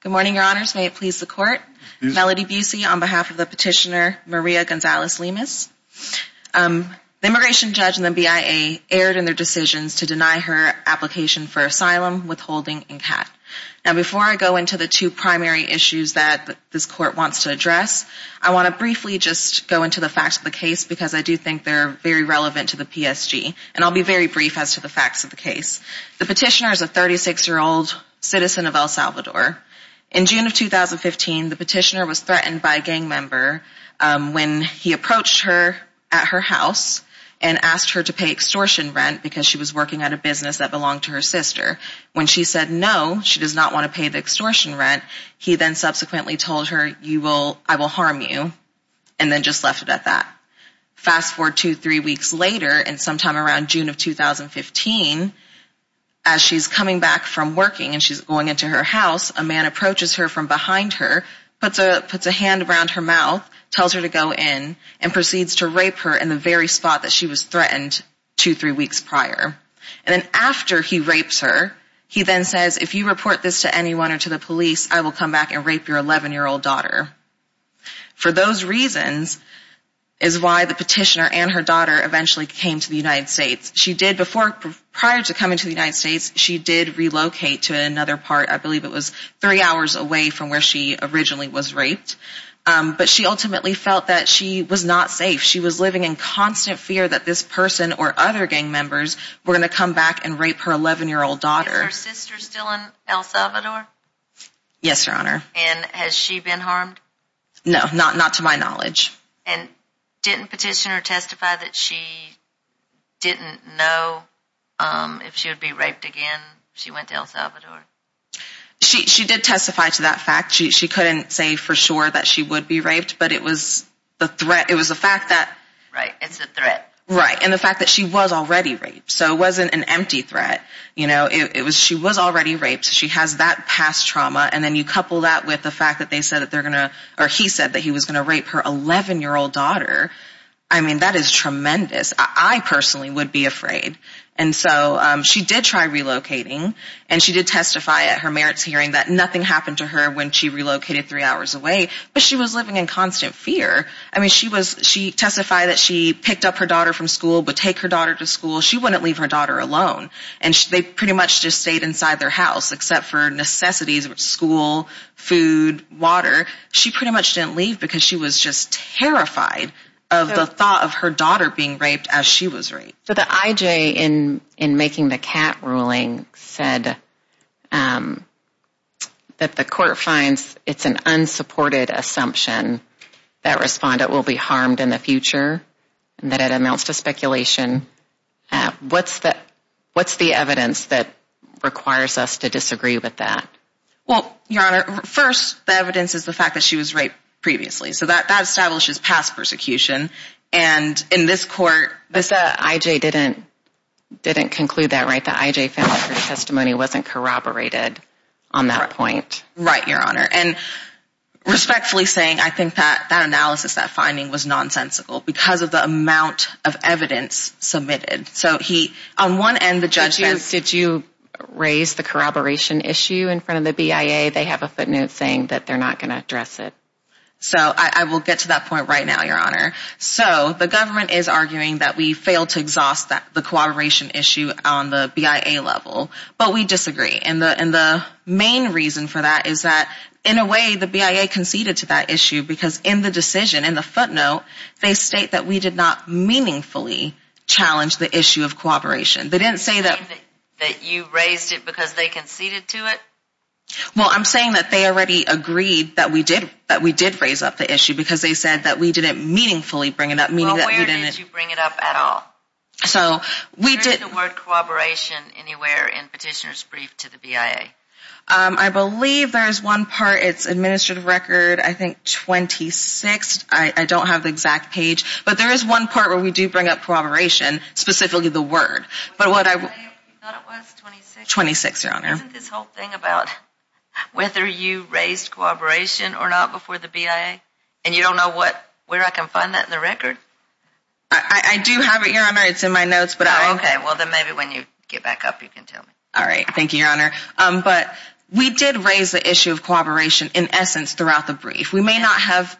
Good morning, your honors. May it please the court. Melody Busey on behalf of the petitioner Maria Gonzalez-Lemus. The immigration judge and the BIA erred in their decisions to deny her application for asylum, withholding, and CAT. Now before I go into the two primary issues that this court wants to address, I want to briefly just go into the facts of the case because I do think they're very relevant to the PSG, and I'll be very brief as to the facts of the case. The petitioner is a 36-year-old citizen of El Salvador. In June of 2015, the petitioner was threatened by a gang member when he approached her at her house and asked her to pay extortion rent because she was working at a business that belonged to her sister. When she said no, she does not want to pay the extortion rent, he then subsequently told her, I will harm you, and then just left it at that. Fast forward two, three weeks later, and sometime around June of 2015, as she's coming back from working and she's going into her house, a man approaches her from behind her, puts a hand around her mouth, tells her to go in, and proceeds to rape her in the very spot that she was threatened two, three weeks prior. And then after he rapes her, he then says, if you report this to anyone or to the police, I will come back and rape your 11-year-old daughter. For those reasons is why the petitioner and her daughter eventually came to the United States. She did before, prior to coming to the United States, she did relocate to another part, I believe it was three hours away from where she originally was raped. But she ultimately felt that she was not safe. She was living in constant fear that this person or other gang members were going to come back and rape her 11-year-old daughter. Is her sister still in El Salvador? Yes, Your Honor. And has she been harmed? No, not to my knowledge. And didn't petitioner testify that she didn't know if she would be raped again if she went to El Salvador? She did testify to that fact. She couldn't say for sure that she would be raped, but it was the fact that... Right, it's a threat. Right, and the fact that she was already raped, so it wasn't an empty threat. She was already raped, she has that past trauma, and then you couple that with the fact that he said that he was going to rape her 11-year-old daughter. I mean, that is tremendous. I personally would be afraid. And so she did try relocating, and she did testify at her merits hearing that nothing happened to her when she relocated three hours away, but she was living in constant fear. I mean, she testified that she picked up her daughter from school, would take her daughter to school. She wouldn't leave her daughter alone, and they pretty much just stayed inside their house except for necessities, school, food, water. She pretty much didn't leave because she was just terrified of the thought of her daughter being raped as she was raped. So the IJ in making the Catt ruling said that the court finds it's an unsupported assumption that Respondent will be harmed in the future, and that it announced a speculation. What's the evidence that requires us to disagree with that? Well, Your Honor, first, the evidence is the fact that she was raped previously, so that establishes past persecution, and in this court... But the IJ didn't conclude that, right? The IJ family court testimony wasn't corroborated on that point. Right, Your Honor. And respectfully saying, I think that analysis, that finding was nonsensical because of the amount of evidence submitted. So on one end, the judge says... Did you raise the corroboration issue in front of the BIA? They have a footnote saying that they're not going to address it. So I will get to that point right now, Your Honor. So the government is arguing that we failed to exhaust the corroboration issue on the BIA level, but we disagree. And the main reason for that is that, in a way, the BIA conceded to that issue because in the decision, in the footnote, they state that we did not meaningfully challenge the issue of corroboration. They didn't say that... You're saying that you raised it because they conceded to it? Well, I'm saying that they already agreed that we did raise up the issue because they said that we didn't meaningfully bring it up, meaning that we didn't... Well, where did you bring it up at all? So, we did... Where is the word corroboration anywhere in Petitioner's Brief to the BIA? I believe there is one part. It's Administrative Record, I think, 26. I don't have the exact page. But there is one part where we do bring up corroboration, specifically the word. When was the BIA? You thought it was 26? 26, Your Honor. Isn't this whole thing about whether you raised corroboration or not before the BIA? And you don't know where I can find that in the record? I do have it, Your Honor. It's in my notes, but I... Okay. Well, then maybe when you get back up, you can tell me. All right. Thank you, Your Honor. But we did raise the issue of corroboration, in essence, throughout the brief. We may not have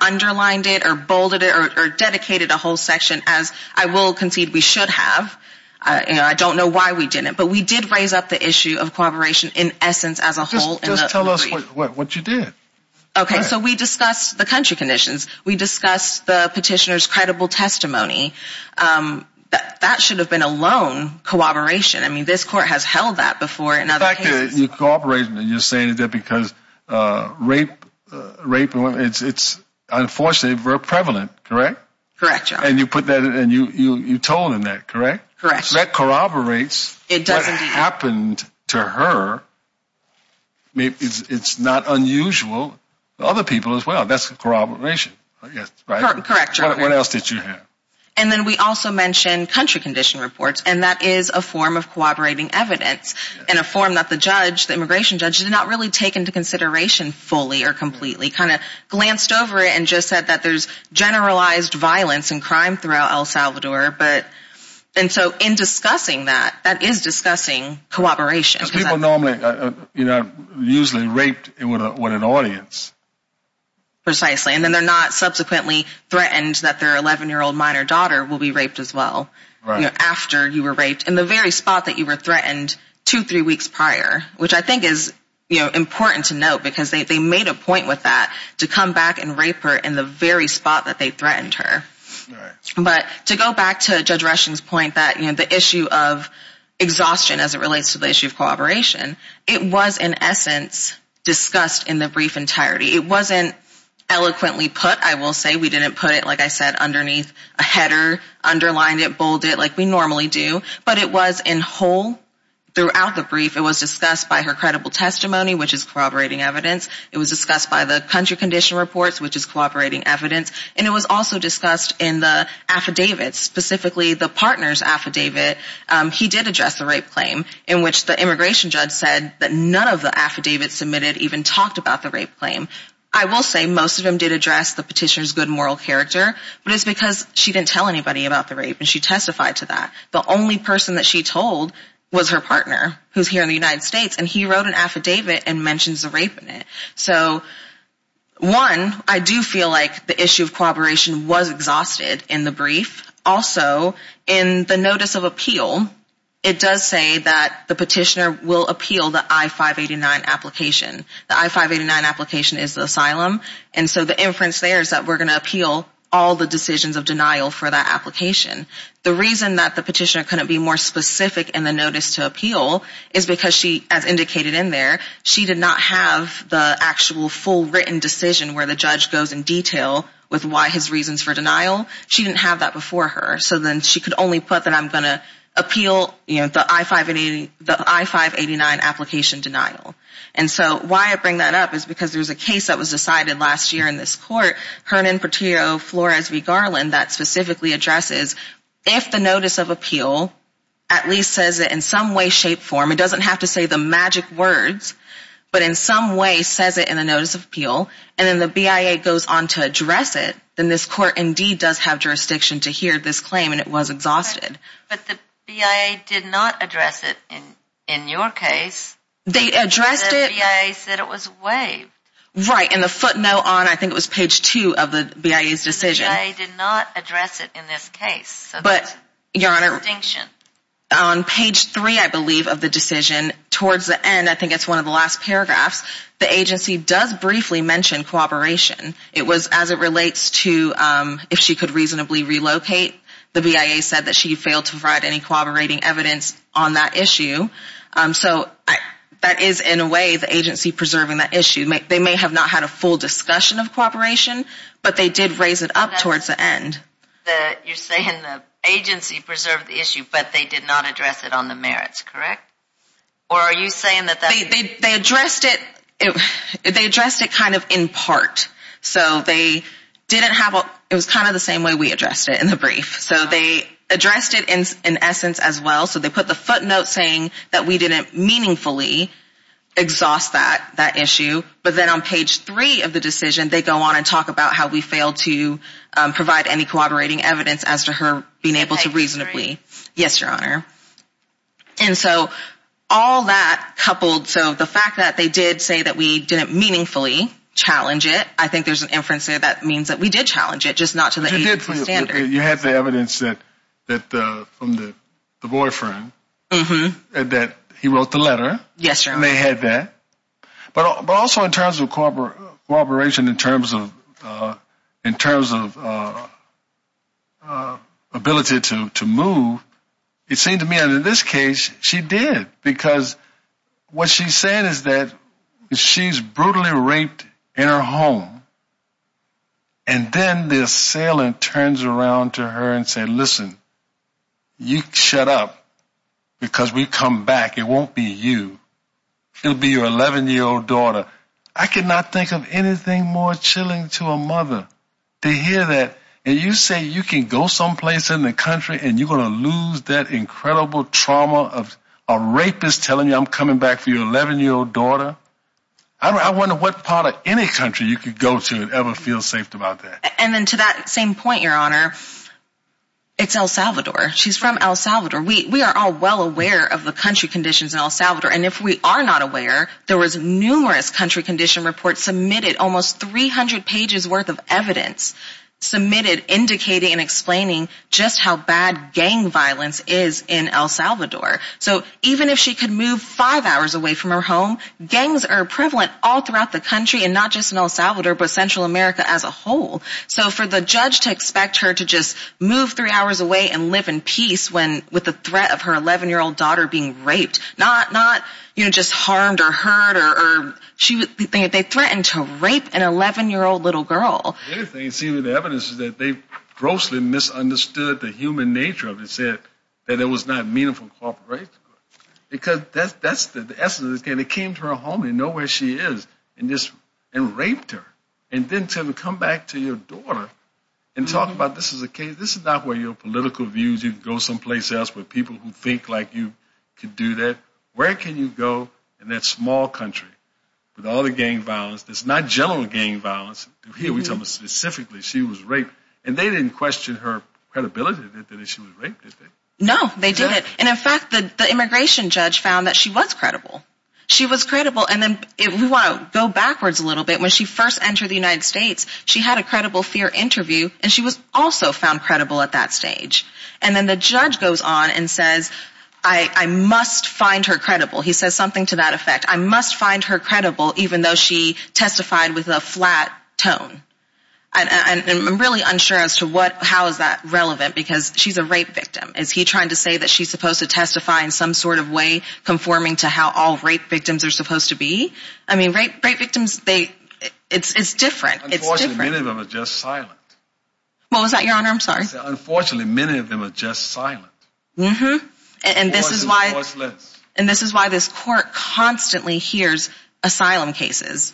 underlined it or bolded it or dedicated a whole section, as I will concede we should have. I don't know why we didn't. But we did raise up the issue of corroboration, in essence, as a whole in the brief. Just tell us what you did. Okay. So we discussed the country conditions. We discussed the Petitioner's credible testimony. That should have been a lone corroboration. I mean, this Court has held that before in other cases. In fact, you corroborated and you're saying that because rape, it's unfortunately very prevalent, correct? Correct, Your Honor. And you put that and you told them that, correct? Correct. So that corroborates what happened to her. It's not unusual to other people as well. That's corroboration, I guess, right? Correct, Your Honor. What else did you have? And then we also mentioned country condition reports, and that is a form of corroborating evidence in a form that the judge, the immigration judge, did not really take into consideration fully or completely. Kind of glanced over it and just said that there's generalized violence and crime throughout El Salvador. And so in discussing that, that is discussing corroboration. Because people normally are usually raped with an audience. Precisely. And then they're not subsequently threatened that their 11-year-old minor daughter will be raped as well. Right. After you were raped, in the very spot that you were threatened two, three weeks prior. Which I think is important to note because they made a point with that to come back and rape her in the very spot that they threatened her. Right. But to go back to Judge Rushing's point that the issue of exhaustion as it relates to the issue of corroboration, it was in essence discussed in the brief entirety. It wasn't eloquently put, I will say. We didn't put it, like I said, underneath a header, underlined it, bolded it like we normally do. But it was in whole throughout the brief. It was discussed by her credible testimony, which is corroborating evidence. It was discussed by the country condition reports, which is corroborating evidence. And it was also discussed in the affidavits, specifically the partner's affidavit. He did address the rape claim in which the immigration judge said that none of the affidavits submitted even talked about the rape claim. I will say most of them did address the petitioner's good moral character. But it's because she didn't tell anybody about the rape and she testified to that. The only person that she told was her partner, who's here in the United States. And he wrote an affidavit and mentions the rape in it. So, one, I do feel like the issue of corroboration was exhausted in the brief. Also, in the notice of appeal, it does say that the petitioner will appeal the I-589 application. The I-589 application is the asylum. And so the inference there is that we're going to appeal all the decisions of denial for that application. The reason that the petitioner couldn't be more specific in the notice to appeal is because she, as indicated in there, she did not have the actual full written decision where the judge goes in detail with why his reasons for denial. She didn't have that before her. So then she could only put that I'm going to appeal the I-589 application denial. And so why I bring that up is because there's a case that was decided last year in this court, Hernan Portillo Flores v. Garland, that specifically addresses if the notice of appeal at least says it in some way, shape, form. It doesn't have to say the magic words, but in some way says it in the notice of appeal. And then the BIA goes on to address it. Then this court indeed does have jurisdiction to hear this claim, and it was exhausted. But the BIA did not address it in your case. They addressed it. The BIA said it was waived. Right, and the footnote on, I think it was page two of the BIA's decision. The BIA did not address it in this case. But, Your Honor, on page three, I believe, of the decision, towards the end, I think it's one of the last paragraphs, the agency does briefly mention cooperation. It was as it relates to if she could reasonably relocate. The BIA said that she failed to provide any cooperating evidence on that issue. So that is, in a way, the agency preserving that issue. They may have not had a full discussion of cooperation, but they did raise it up towards the end. You're saying the agency preserved the issue, but they did not address it on the merits, correct? Or are you saying that that's... They addressed it kind of in part. So they didn't have a... It was kind of the same way we addressed it in the brief. So they addressed it in essence as well. So they put the footnote saying that we didn't meaningfully exhaust that issue. But then on page three of the decision, they go on and talk about how we failed to provide any cooperating evidence as to her being able to reasonably... Page three. Yes, Your Honor. And so all that coupled... So the fact that they did say that we didn't meaningfully challenge it, I think there's an inference there that means that we did challenge it, just not to the agency's standard. You had the evidence from the boyfriend that he wrote the letter. Yes, Your Honor. And they had that. But also in terms of cooperation, in terms of ability to move, it seemed to me under this case, she did. Because what she's saying is that she's brutally raped in her home. And then this assailant turns around to her and said, listen, you shut up because we come back. It won't be you. It'll be your 11-year-old daughter. I could not think of anything more chilling to a mother to hear that. And you say you can go someplace in the country and you're going to lose that incredible trauma of a rapist telling you I'm coming back for your 11-year-old daughter. I wonder what part of any country you could go to and ever feel safe about that. And then to that same point, Your Honor, it's El Salvador. She's from El Salvador. We are all well aware of the country conditions in El Salvador. And if we are not aware, there was numerous country condition reports submitted, almost 300 pages worth of evidence submitted indicating and explaining just how bad gang violence is in El Salvador. So even if she could move five hours away from her home, gangs are prevalent all throughout the country and not just in El Salvador but Central America as a whole. So for the judge to expect her to just move three hours away and live in peace with the threat of her 11-year-old daughter being raped, not just harmed or hurt. They threatened to rape an 11-year-old little girl. The evidence is that they grossly misunderstood the human nature of it and said that it was not meaningful cooperation. Because that's the essence of this case. They came to her home, they know where she is, and just raped her. And then to come back to your daughter and talk about this is a case, this is not where your political views, you can go someplace else where people who think like you could do that. Where can you go in that small country with all the gang violence that's not general gang violence? Here we're talking specifically she was raped. And they didn't question her credibility that she was raped, did they? No, they didn't. And in fact the immigration judge found that she was credible. She was credible. And we want to go backwards a little bit. When she first entered the United States, she had a credible fear interview and she was also found credible at that stage. And then the judge goes on and says, I must find her credible. He says something to that effect. I must find her credible even though she testified with a flat tone. And I'm really unsure as to how is that relevant because she's a rape victim. Is he trying to say that she's supposed to testify in some sort of way conforming to how all rape victims are supposed to be? I mean rape victims, it's different. Unfortunately, many of them are just silent. What was that, your honor? I'm sorry. Unfortunately, many of them are just silent. And this is why this court constantly hears asylum cases.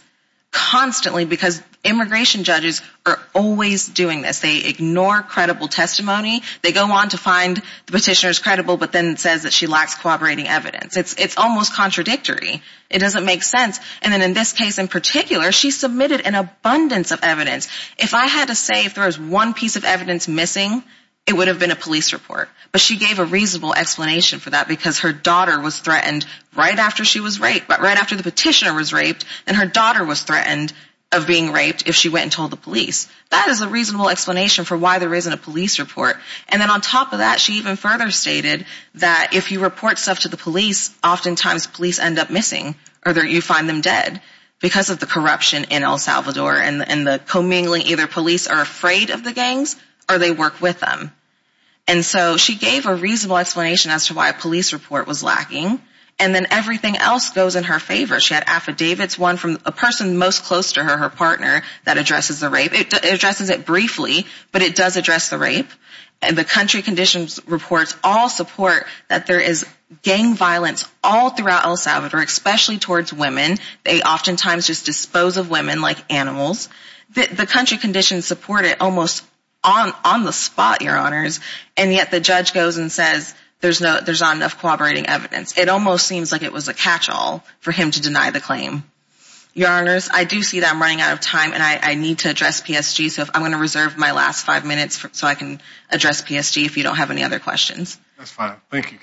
Constantly because immigration judges are always doing this. They ignore credible testimony. They go on to find the petitioner's credible but then says that she lacks cooperating evidence. It's almost contradictory. It doesn't make sense. And then in this case in particular, she submitted an abundance of evidence. If I had to say if there was one piece of evidence missing, it would have been a police report. But she gave a reasonable explanation for that because her daughter was threatened right after she was raped, right after the petitioner was raped. And her daughter was threatened of being raped if she went and told the police. That is a reasonable explanation for why there isn't a police report. And then on top of that, she even further stated that if you report stuff to the police, oftentimes police end up missing or you find them dead. Because of the corruption in El Salvador and the commingling either police are afraid of the gangs or they work with them. And so she gave a reasonable explanation as to why a police report was lacking. And then everything else goes in her favor. She had affidavits, one from a person most close to her, her partner, that addresses the rape. It addresses it briefly, but it does address the rape. And the country conditions reports all support that there is gang violence all throughout El Salvador, especially towards women. They oftentimes just dispose of women like animals. The country conditions support it almost on the spot, Your Honors. And yet the judge goes and says there's not enough corroborating evidence. It almost seems like it was a catch-all for him to deny the claim. Your Honors, I do see that I'm running out of time and I need to address PSG. So I'm going to reserve my last five minutes so I can address PSG if you don't have any other questions. That's fine. Thank you.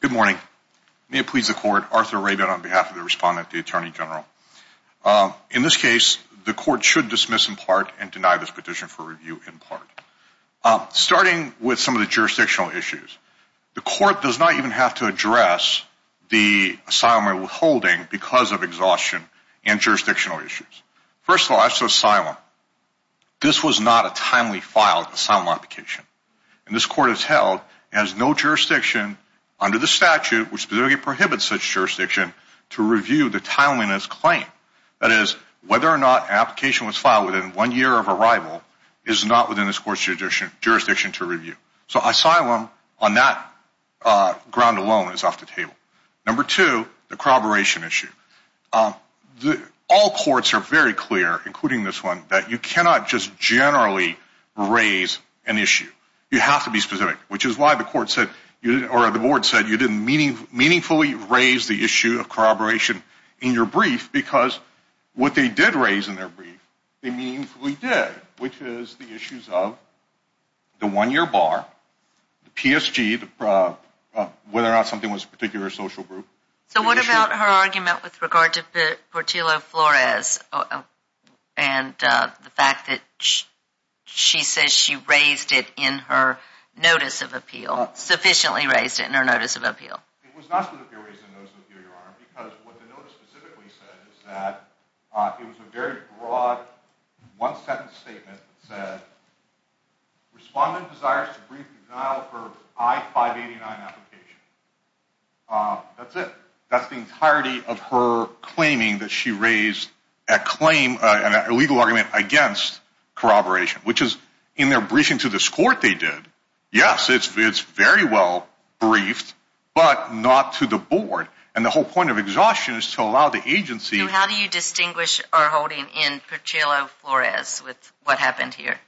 Good morning. May it please the Court. Arthur Rabin on behalf of the respondent, the Attorney General. In this case, the Court should dismiss in part and deny this petition for review in part. Starting with some of the jurisdictional issues, the Court does not even have to address the asylum or withholding because of exhaustion and jurisdictional issues. First of all, as to asylum, this was not a timely filed asylum application. And this Court has held it has no jurisdiction under the statute which specifically prohibits such jurisdiction to review the timeliness claim. That is, whether or not an application was filed within one year of arrival is not within this Court's jurisdiction to review. So asylum on that ground alone is off the table. Number two, the corroboration issue. All courts are very clear, including this one, that you cannot just generally raise an issue. You have to be specific, which is why the board said you didn't meaningfully raise the issue of corroboration in your brief because what they did raise in their brief, they meaningfully did, which is the issues of the one-year bar, the PSG, whether or not something was a particular social group. So what about her argument with regard to Portillo-Flores and the fact that she says she raised it in her notice of appeal, sufficiently raised it in her notice of appeal? It was not specifically raised in her notice of appeal, Your Honor, because what the notice specifically said is that it was a very broad one-sentence statement that said, Respondent desires to brief the denial of her I-589 application. That's it. That's the entirety of her claiming that she raised a claim, an illegal argument against corroboration, which is in their briefing to this Court they did. Yes, it's very well briefed, but not to the board. And the whole point of exhaustion is to allow the agency. So how do you distinguish our holding in Portillo-Flores with what happened here?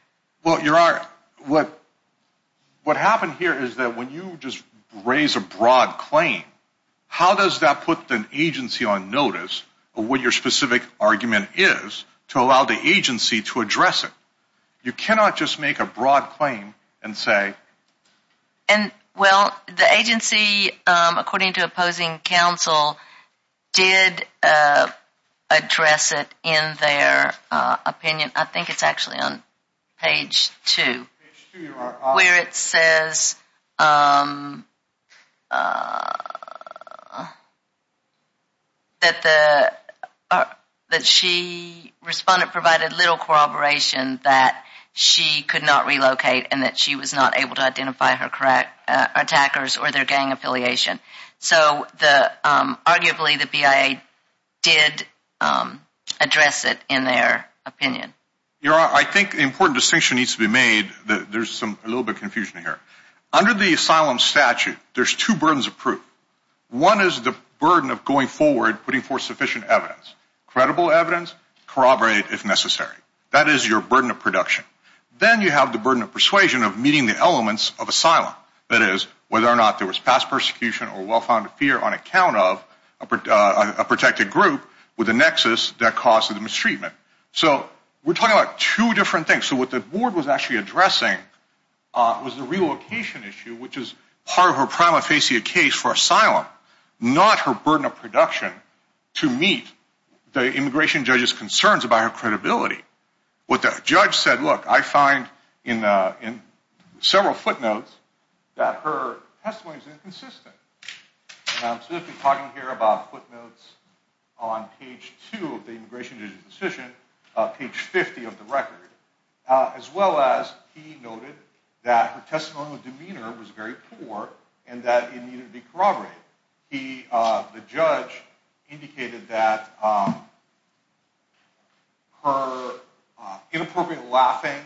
Well, Your Honor, what happened here is that when you just raise a broad claim, how does that put an agency on notice of what your specific argument is to allow the agency to address it? You cannot just make a broad claim and say... Well, the agency, according to opposing counsel, did address it in their opinion. I think it's actually on page 2 where it says that she, Respondent, provided little corroboration that she could not relocate and that she was not able to identify her attackers or their gang affiliation. So arguably the BIA did address it in their opinion. Your Honor, I think the important distinction needs to be made. There's a little bit of confusion here. Under the asylum statute, there's two burdens of proof. One is the burden of going forward, putting forth sufficient evidence, credible evidence, corroborated if necessary. That is your burden of production. Then you have the burden of persuasion of meeting the elements of asylum. That is whether or not there was past persecution or well-founded fear on account of a protected group with a nexus that caused the mistreatment. So we're talking about two different things. So what the board was actually addressing was the relocation issue, which is part of her prima facie case for asylum, not her burden of production to meet the immigration judge's concerns about her credibility. What the judge said, look, I find in several footnotes that her testimony is inconsistent. And I'm specifically talking here about footnotes on page two of the immigration judge's decision, page 50 of the record, as well as he noted that her testimonial demeanor was very poor and that it needed to be corroborated. The judge indicated that her inappropriate laughing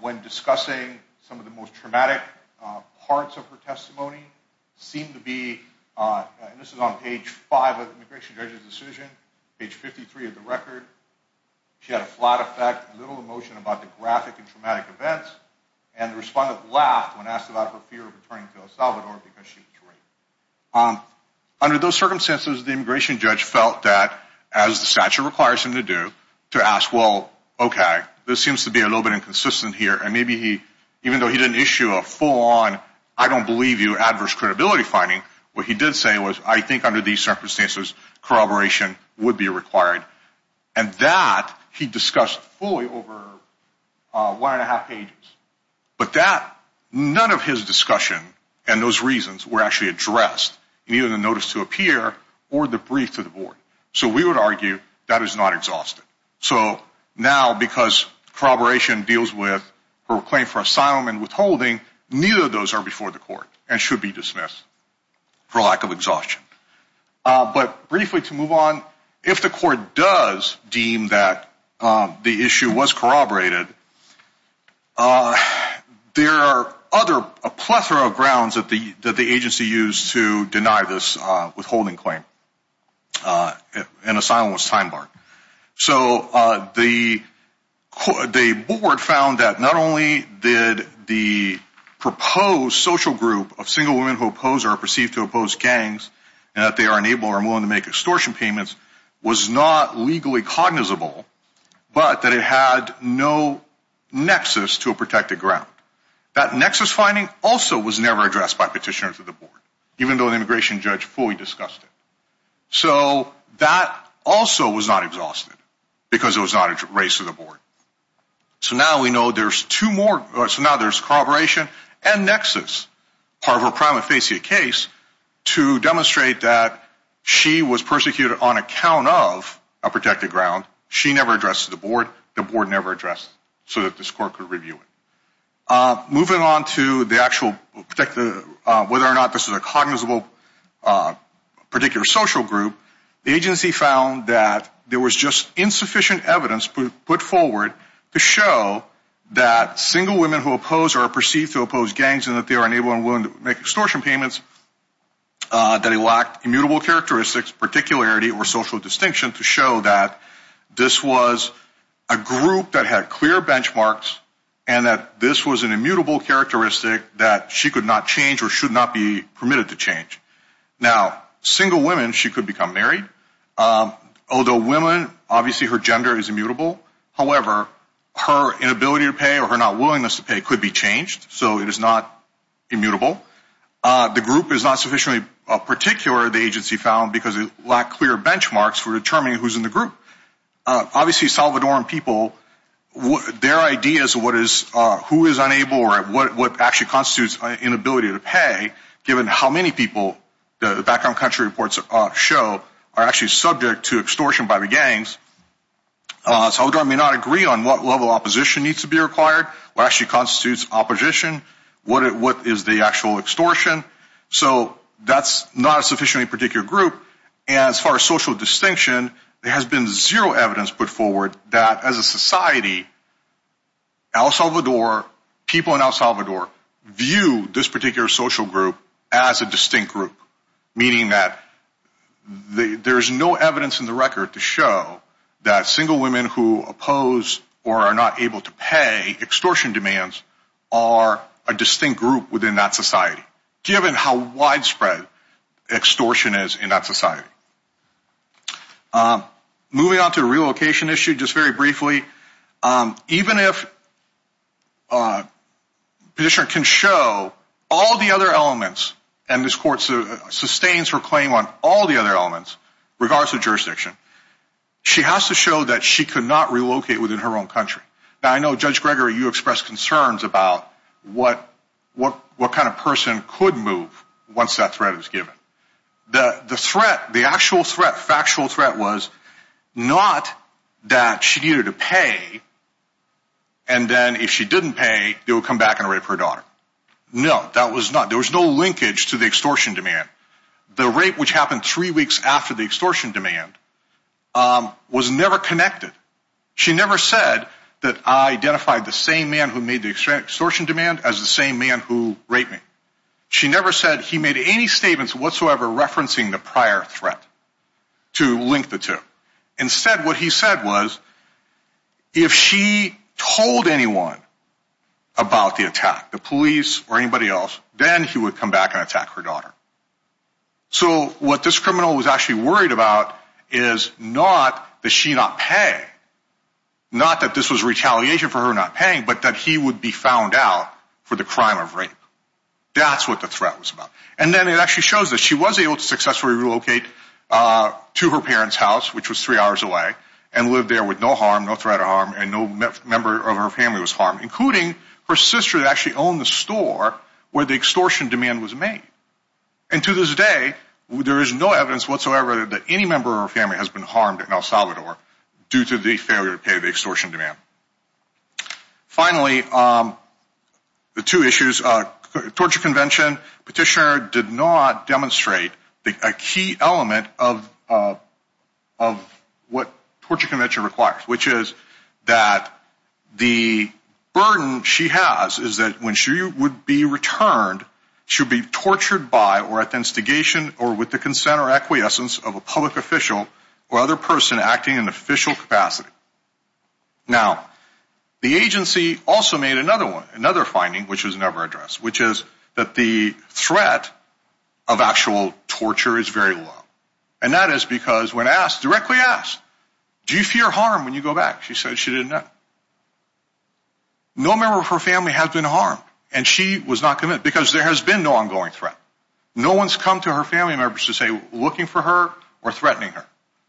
when discussing some of the most traumatic parts of her testimony seemed to be, and this is on page five of the immigration judge's decision, page 53 of the record, she had a flat effect, little emotion about the graphic and traumatic events, and the respondent laughed when asked about her fear of returning to El Salvador because she was afraid. Under those circumstances, the immigration judge felt that, as the statute requires him to do, to ask, well, okay, this seems to be a little bit inconsistent here. And maybe he, even though he didn't issue a full-on, I don't believe you, adverse credibility finding, what he did say was, I think under these circumstances, corroboration would be required. And that he discussed fully over one and a half pages. But that, none of his discussion and those reasons were actually addressed in either the notice to appear or the brief to the board. So we would argue that is not exhausted. So now, because corroboration deals with her claim for asylum and withholding, neither of those are before the court and should be dismissed for lack of exhaustion. But briefly to move on, if the court does deem that the issue was corroborated, there are other, a plethora of grounds that the agency used to deny this withholding claim. And asylum was time-barred. So the board found that not only did the proposed social group of single women who oppose or are perceived to oppose gangs, and that they are unable or unwilling to make extortion payments, was not legally cognizable. But that it had no nexus to a protected ground. That nexus finding also was never addressed by petitioners of the board, even though the immigration judge fully discussed it. So that also was not exhausted because it was not raised to the board. So now we know there's two more. So now there's corroboration and nexus, part of her prima facie case to demonstrate that she was persecuted on account of a protected ground. She never addressed the board. The board never addressed so that this court could review it. Moving on to the actual, whether or not this is a cognizable particular social group, the agency found that there was just insufficient evidence put forward to show that single women who oppose or are perceived to oppose gangs, and that they are unable or unwilling to make extortion payments, that it lacked immutable characteristics, particularity, or social distinction to show that this was a group that had clear benchmarks and that this was an immutable characteristic that she could not change or should not be permitted to change. Now, single women, she could become married. Although women, obviously her gender is immutable. However, her inability to pay or her not willingness to pay could be changed. So it is not immutable. The group is not sufficiently particular, the agency found, because it lacked clear benchmarks for determining who's in the group. Obviously, Salvadoran people, their ideas of who is unable or what actually constitutes inability to pay, given how many people the background country reports show, are actually subject to extortion by the gangs. Salvadoran may not agree on what level of opposition needs to be required, what actually constitutes opposition, what is the actual extortion. So that's not a sufficiently particular group. And as far as social distinction, there has been zero evidence put forward that as a society, El Salvador, people in El Salvador, view this particular social group as a distinct group. Meaning that there's no evidence in the record to show that single women who oppose or are not able to pay extortion demands are a distinct group within that society, given how widespread extortion is in that society. Moving on to a relocation issue, just very briefly. Even if a petitioner can show all the other elements, and this court sustains her claim on all the other elements, regardless of jurisdiction, she has to show that she could not relocate within her own country. Now, I know, Judge Gregory, you expressed concerns about what kind of person could move once that threat is given. The threat, the actual threat, factual threat was not that she needed to pay, and then if she didn't pay, they would come back and rape her daughter. No, that was not, there was no linkage to the extortion demand. The rape which happened three weeks after the extortion demand was never connected. She never said that I identified the same man who made the extortion demand as the same man who raped me. She never said he made any statements whatsoever referencing the prior threat to link the two. Instead, what he said was, if she told anyone about the attack, the police or anybody else, then he would come back and attack her daughter. So, what this criminal was actually worried about is not that she not pay, not that this was retaliation for her not paying, but that he would be found out for the crime of rape. That's what the threat was about. And then it actually shows that she was able to successfully relocate to her parents' house, which was three hours away, and lived there with no harm, no threat of harm, and no member of her family was harmed, including her sister that actually owned the store where the extortion demand was made. And to this day, there is no evidence whatsoever that any member of her family has been harmed in El Salvador due to the failure to pay the extortion demand. Finally, the two issues, torture convention. Petitioner did not demonstrate a key element of what torture convention requires, which is that the burden she has is that when she would be returned, she would be tortured by or at the instigation or with the consent or acquiescence of a public official or other person acting in official capacity. Now, the agency also made another one, another finding, which was never addressed, which is that the threat of actual torture is very low. And that is because when asked, directly asked, do you fear harm when you go back? She said she didn't know. No member of her family has been harmed, and she was not committed because there has been no ongoing threat. No one's come to her family members to say looking for her or threatening her.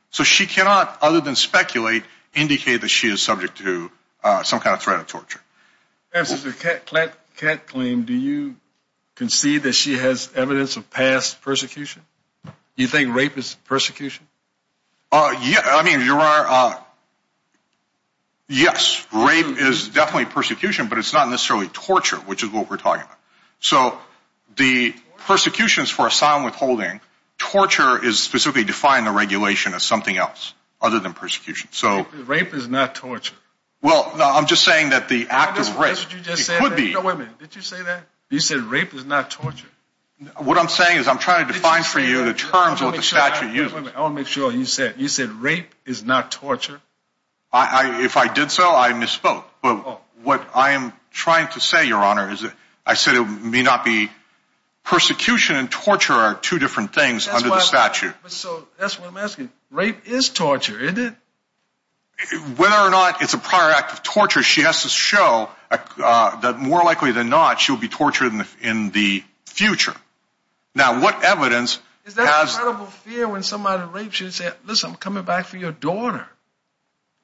So she cannot, other than speculate, indicate that she is subject to some kind of threat of torture. As a cat claim, do you concede that she has evidence of past persecution? You think rape is persecution? Yeah, I mean, you are. Yes, rape is definitely persecution, but it's not necessarily torture, which is what we're talking about. So the persecutions for asylum withholding torture is specifically defined the regulation of something else other than persecution. So rape is not torture. Well, I'm just saying that the act of race would be women. Did you say that you said rape is not torture? What I'm saying is I'm trying to find for you the terms of the statute. I want to make sure you said you said rape is not torture. If I did so, I misspoke. But what I am trying to say, Your Honor, is I said it may not be. Persecution and torture are two different things under the statute. So that's what I'm asking. Rape is torture, isn't it? Whether or not it's a prior act of torture, she has to show that more likely than not, she'll be tortured in the future. Now, what evidence? Is that credible fear when somebody rapes you and says, listen, I'm coming back for your daughter?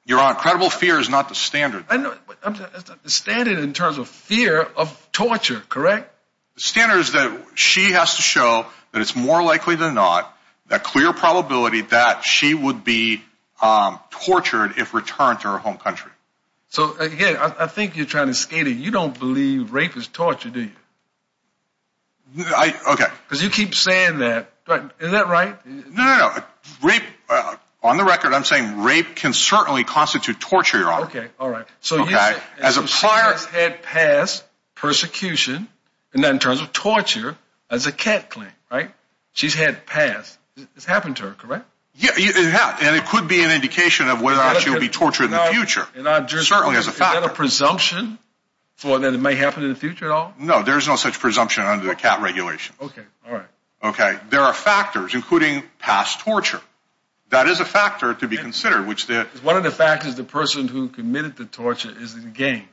Your Honor, credible fear is not the standard. The standard in terms of fear of torture, correct? The standard is that she has to show that it's more likely than not, the clear probability that she would be tortured if returned to her home country. So, again, I think you're trying to skate it. You don't believe rape is torture, do you? I, okay. Because you keep saying that. Is that right? No, no, no. Rape, on the record, I'm saying rape can certainly constitute torture, Your Honor. Okay, all right. Okay, as a prior. So she has had past persecution in terms of torture as a cat claim, right? She's had past. It's happened to her, correct? Yeah, and it could be an indication of whether or not she'll be tortured in the future, certainly as a factor. Is that a presumption for that it may happen in the future at all? No, there's no such presumption under the cat regulation. Okay, all right. Okay, there are factors, including past torture. That is a factor to be considered. One of the factors, the person who committed the torture is the gang.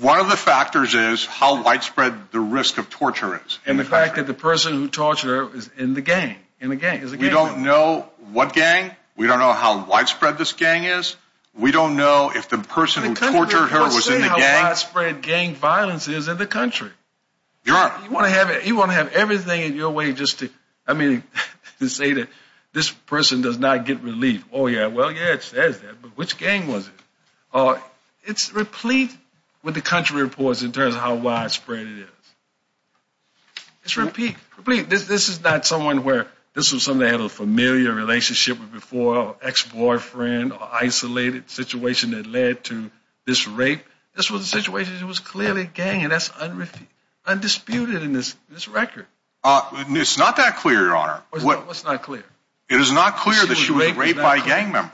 One of the factors is how widespread the risk of torture is. And the fact that the person who tortured her is in the gang. We don't know what gang. We don't know how widespread this gang is. We don't know if the person who tortured her was in the gang. Let's say how widespread gang violence is in the country. You want to have everything in your way just to say that this person does not get relief. Oh, yeah, well, yeah, it says that, but which gang was it? It's replete with the country reports in terms of how widespread it is. It's replete. This is not someone where this was someone they had a familiar relationship with before, or ex-boyfriend, or isolated situation that led to this rape. This was a situation that was clearly gang, and that's undisputed in this record. It's not that clear, Your Honor. What's not clear? It is not clear that she was raped by a gang member.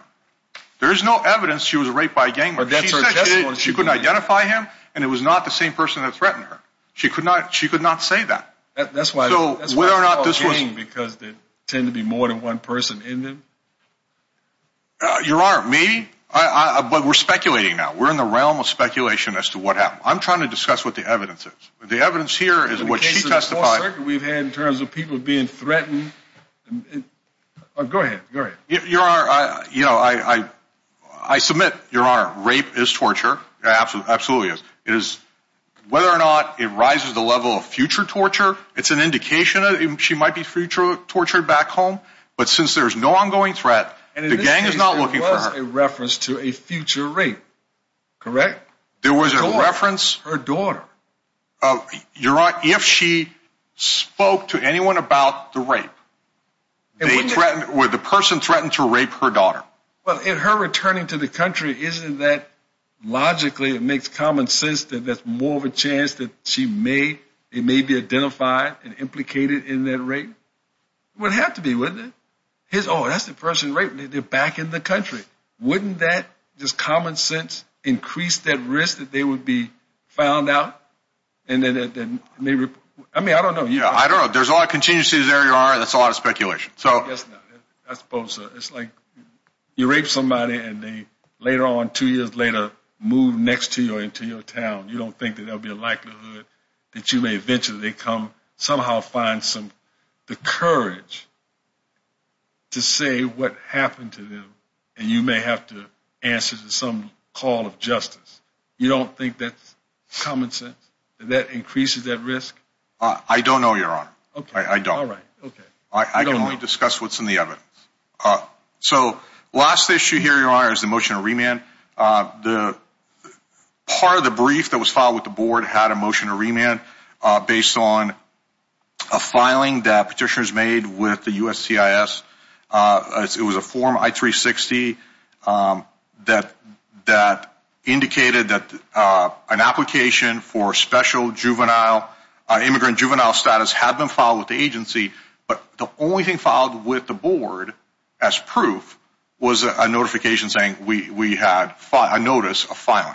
There is no evidence she was raped by a gang member. She said she couldn't identify him, and it was not the same person that threatened her. She could not say that. That's why it's called gang because there tend to be more than one person in them? Your Honor, maybe, but we're speculating now. We're in the realm of speculation as to what happened. I'm trying to discuss what the evidence is. The evidence here is what she testified. We've had in terms of people being threatened. Go ahead, go ahead. Your Honor, you know, I submit, Your Honor, rape is torture. It absolutely is. Whether or not it rises to the level of future torture, it's an indication. She might be future tortured back home, but since there's no ongoing threat, the gang is not looking for her. And in this case, there was a reference to a future rape, correct? There was a reference. Her daughter. Your Honor, if she spoke to anyone about the rape, the person threatened to rape her daughter. Well, in her returning to the country, isn't that logically, it makes common sense that that's more of a chance that she may be identified and implicated in that rape? It would have to be, wouldn't it? Oh, that's the person raped. They're back in the country. Wouldn't that, just common sense, increase that risk that they would be found out? I mean, I don't know. I don't know. There's a lot of contingencies there, Your Honor, and that's a lot of speculation. I suppose it's like you rape somebody and they later on, two years later, move next to you or into your town. You don't think that there will be a likelihood that you may eventually come, somehow find some, the courage to say what happened to them, and you may have to answer to some call of justice. You don't think that's common sense, that that increases that risk? I don't know, Your Honor. Okay. I don't. All right. Okay. I can only discuss what's in the oven. So last issue here, Your Honor, is the motion to remand. Part of the brief that was filed with the board had a motion to remand based on a filing that petitioners made with the USCIS. It was a form, I-360, that indicated that an application for special juvenile, immigrant juvenile status had been filed with the agency, but the only thing filed with the board as proof was a notification saying we had a notice of filing.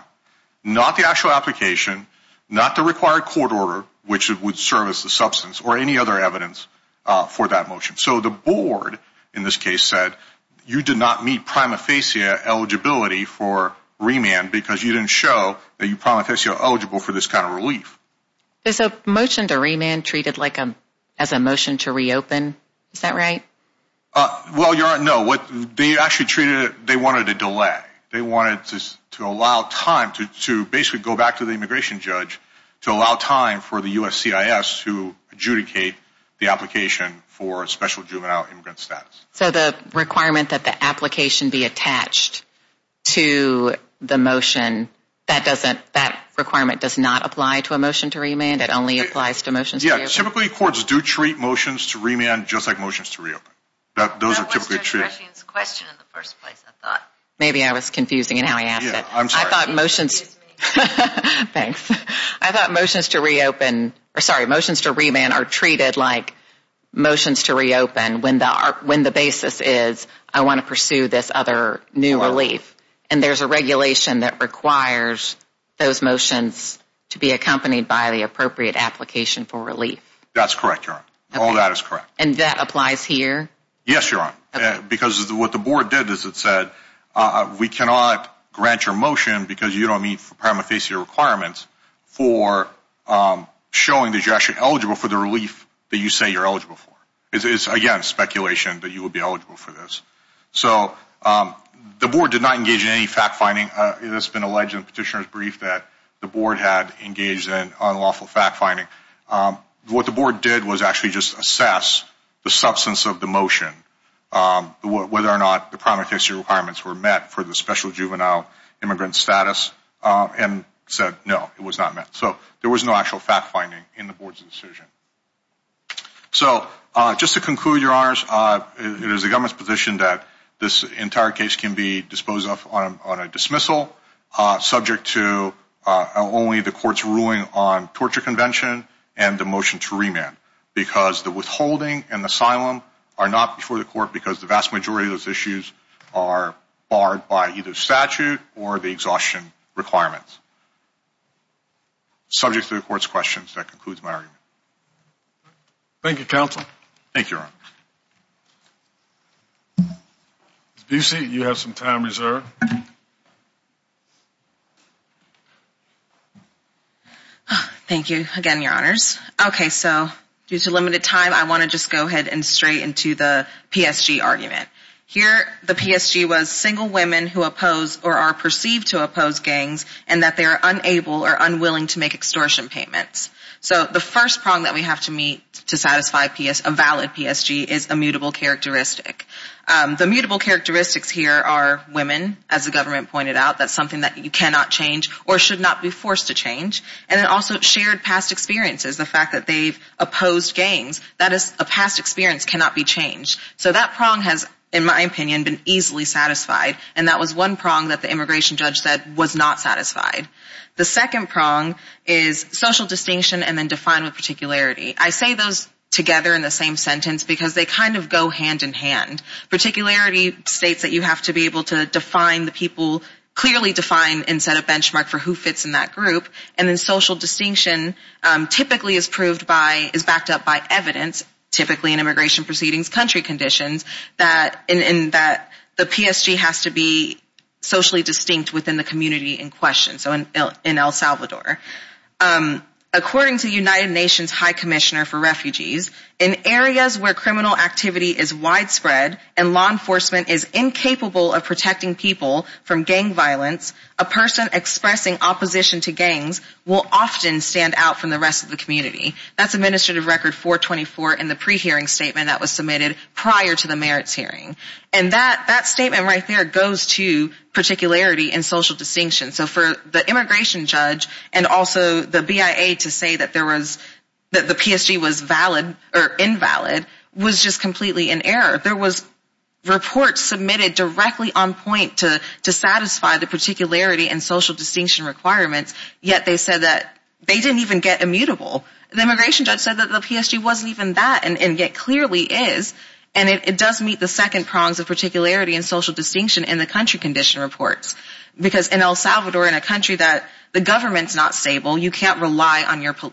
Not the actual application, not the required court order, which would serve as the substance, or any other evidence for that motion. So the board, in this case, said you did not meet prima facie eligibility for remand because you didn't show that you're prima facie eligible for this kind of relief. Is a motion to remand treated like a motion to reopen? Is that right? Well, Your Honor, no. They actually treated it, they wanted a delay. They wanted to allow time to basically go back to the immigration judge to allow time for the USCIS to adjudicate the application for special juvenile, immigrant status. So the requirement that the application be attached to the motion, that requirement does not apply to a motion to remand? It only applies to motions to reopen? Yeah, typically courts do treat motions to remand just like motions to reopen. That was Judge Rushing's question in the first place, I thought. Maybe I was confusing in how he asked it. I'm sorry. I thought motions to reopen, sorry, motions to remand are treated like motions to reopen when the basis is I want to pursue this other new relief. And there's a regulation that requires those motions to be accompanied by the appropriate application for relief. That's correct, Your Honor. All that is correct. And that applies here? Yes, Your Honor. Because what the board did is it said, we cannot grant your motion because you don't meet paramethasia requirements for showing that you're actually eligible for the relief that you say you're eligible for. It's, again, speculation that you would be eligible for this. So the board did not engage in any fact-finding. It has been alleged in the petitioner's brief that the board had engaged in unlawful fact-finding. What the board did was actually just assess the substance of the motion, whether or not the paramethasia requirements were met for the special juvenile immigrant status, and said no, it was not met. So there was no actual fact-finding in the board's decision. So just to conclude, Your Honors, it is the government's position that this entire case can be disposed of on a dismissal, subject to only the court's ruling on torture convention and the motion to remand. Because the withholding and asylum are not before the court because the vast majority of those issues are barred by either statute or the exhaustion requirements. Subject to the court's questions. That concludes my argument. Thank you, Counsel. Thank you, Your Honor. Ms. Busey, you have some time reserved. Thank you again, Your Honors. Okay, so due to limited time, I want to just go ahead and stray into the PSG argument. Here, the PSG was single women who oppose or are perceived to oppose gangs and that they are unable or unwilling to make extortion payments. So the first prong that we have to meet to satisfy a valid PSG is a mutable characteristic. The mutable characteristics here are women, as the government pointed out. That's something that you cannot change or should not be forced to change. And then also shared past experiences. The fact that they've opposed gangs, that is a past experience cannot be changed. So that prong has, in my opinion, been easily satisfied. And that was one prong that the immigration judge said was not satisfied. The second prong is social distinction and then define with particularity. I say those together in the same sentence because they kind of go hand in hand. Particularity states that you have to be able to define the people, clearly define and set a benchmark for who fits in that group. And then social distinction typically is backed up by evidence, typically in immigration proceedings, country conditions, in that the PSG has to be socially distinct within the community in question, so in El Salvador. According to United Nations High Commissioner for Refugees, in areas where criminal activity is widespread and law enforcement is incapable of protecting people from gang violence, a person expressing opposition to gangs will often stand out from the rest of the community. That's administrative record 424 in the pre-hearing statement that was submitted prior to the merits hearing. And that statement right there goes to particularity and social distinction. So for the immigration judge and also the BIA to say that there was, that the PSG was valid or invalid was just completely in error. There was reports submitted directly on point to satisfy the particularity and social distinction requirements, yet they said that they didn't even get immutable. The immigration judge said that the PSG wasn't even that and yet clearly is. And it does meet the second prongs of particularity and social distinction in the country condition reports. Because in El Salvador, in a country that the government's not stable, you can't rely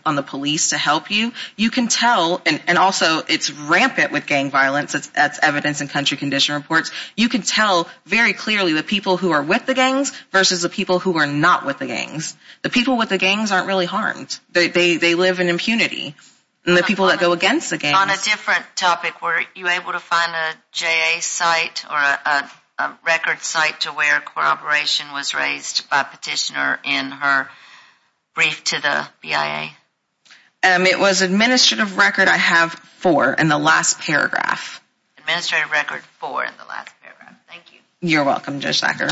on the police to help you. You can tell, and also it's rampant with gang violence, that's evidence in country condition reports, you can tell very clearly the people who are with the gangs versus the people who are not with the gangs. The people with the gangs aren't really harmed. They live in impunity. And the people that go against the gangs... On a different topic, were you able to find a JA site or a record site to where corroboration was raised by a petitioner in her brief to the BIA? It was administrative record, I have, 4 in the last paragraph. Administrative record, 4 in the last paragraph. Thank you. You're welcome, Judge Thacker.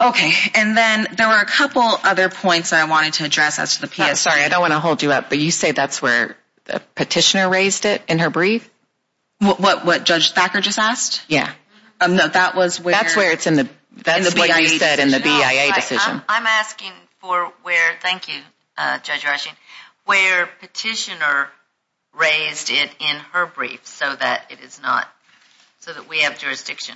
Okay, and then there were a couple other points that I wanted to address as to the PSG. Sorry, I don't want to hold you up, but you say that's where the petitioner raised it in her brief? What Judge Thacker just asked? Yeah. That's where it's in the BIA decision. I'm asking for where, thank you, Judge Rushing, where petitioner raised it in her brief so that it is not, so that we have jurisdiction.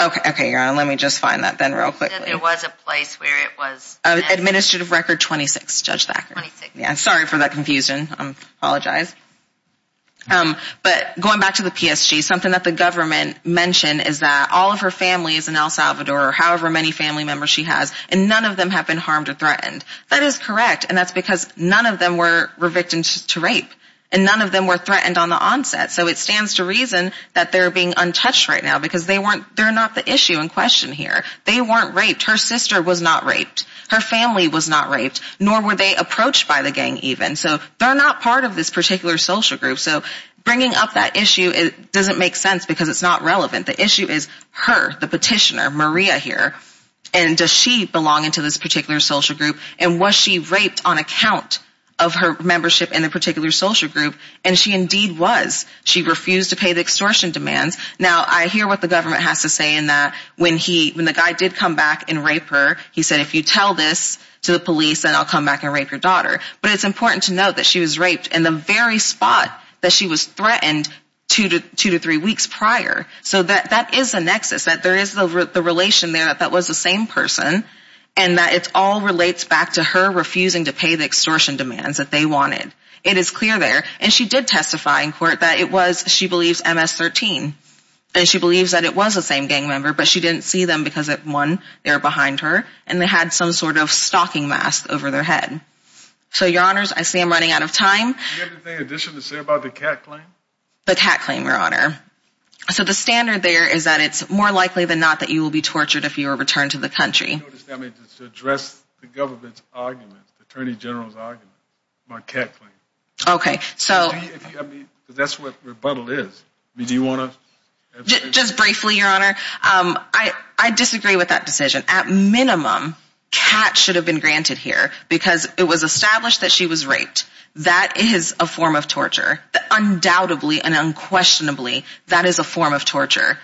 Okay, Your Honor, let me just find that then real quickly. There was a place where it was... Administrative record 26, Judge Thacker. 26. Yeah, sorry for that confusion. I apologize. But going back to the PSG, something that the government mentioned is that all of her family is in El Salvador, however many family members she has, and none of them have been harmed or threatened. That is correct, and that's because none of them were victims to rape. And none of them were threatened on the onset. So it stands to reason that they're being untouched right now because they're not the issue in question here. They weren't raped. Her sister was not raped. Her family was not raped, nor were they approached by the gang even. So they're not part of this particular social group. So bringing up that issue doesn't make sense because it's not relevant. The issue is her, the petitioner, Maria here. And does she belong into this particular social group? And was she raped on account of her membership in a particular social group? And she indeed was. She refused to pay the extortion demands. Now, I hear what the government has to say in that when the guy did come back and rape her, he said, if you tell this to the police, then I'll come back and rape your daughter. But it's important to note that she was raped in the very spot that she was threatened two to three weeks prior. So that is a nexus, that there is the relation there that that was the same person and that it all relates back to her refusing to pay the extortion demands that they wanted. It is clear there. And she did testify in court that it was, she believes, MS-13. And she believes that it was the same gang member, but she didn't see them because, one, they were behind her and they had some sort of stalking mask over their head. So, Your Honors, I see I'm running out of time. Do you have anything additional to say about the cat claim? The cat claim, Your Honor. So the standard there is that it's more likely than not that you will be tortured if you are returned to the country. I mean, to address the government's argument, the Attorney General's argument, my cat claim. Okay, so... I mean, that's what rebuttal is. I mean, do you want to... Just briefly, Your Honor, I disagree with that decision. At minimum, cat should have been granted here because it was established that she was raped. That is a form of torture. Undoubtedly and unquestionably, that is a form of torture.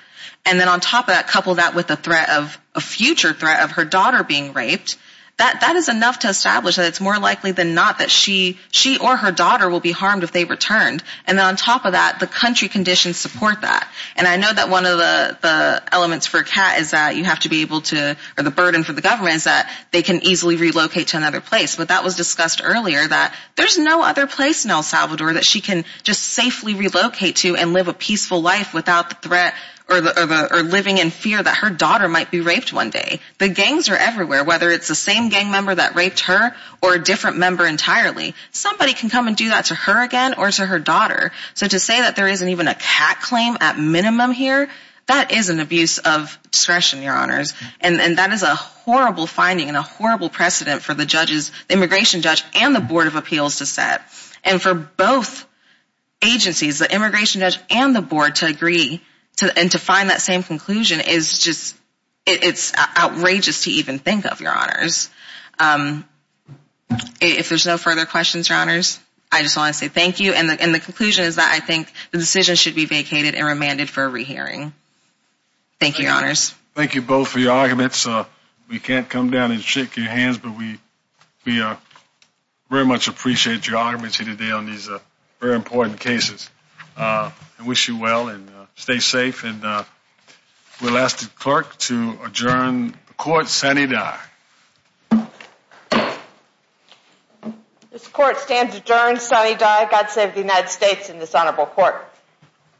And then on top of that, couple that with the threat of, a future threat of her daughter being raped. That is enough to establish that it's more likely than not that she or her daughter will be harmed if they returned. And then on top of that, the country conditions support that. And I know that one of the elements for a cat is that you have to be able to, or the burden for the government is that they can easily relocate to another place. But that was discussed earlier that there's no other place in El Salvador that she can just safely relocate to and live a peaceful life without the threat or living in fear that her daughter might be raped one day. The gangs are everywhere, whether it's the same gang member that raped her or a different member entirely. Somebody can come and do that to her again or to her daughter. So to say that there isn't even a cat claim at minimum here, that is an abuse of discretion, Your Honors. And that is a horrible finding and a horrible precedent for the judges, the immigration judge, and the Board of Appeals to set. And for both agencies, the immigration judge and the board, to agree and to find that same conclusion is just, it's outrageous to even think of, Your Honors. If there's no further questions, Your Honors, I just want to say thank you. And the conclusion is that I think the decision should be vacated and remanded for a rehearing. Thank you, Your Honors. Thank you both for your arguments. We can't come down and shake your hands, but we very much appreciate your arguments here today on these very important cases. I wish you well and stay safe. And we'll ask the clerk to adjourn the court. Sunny Dye. This court stands adjourned. Sunny Dye. God save the United States and this honorable court.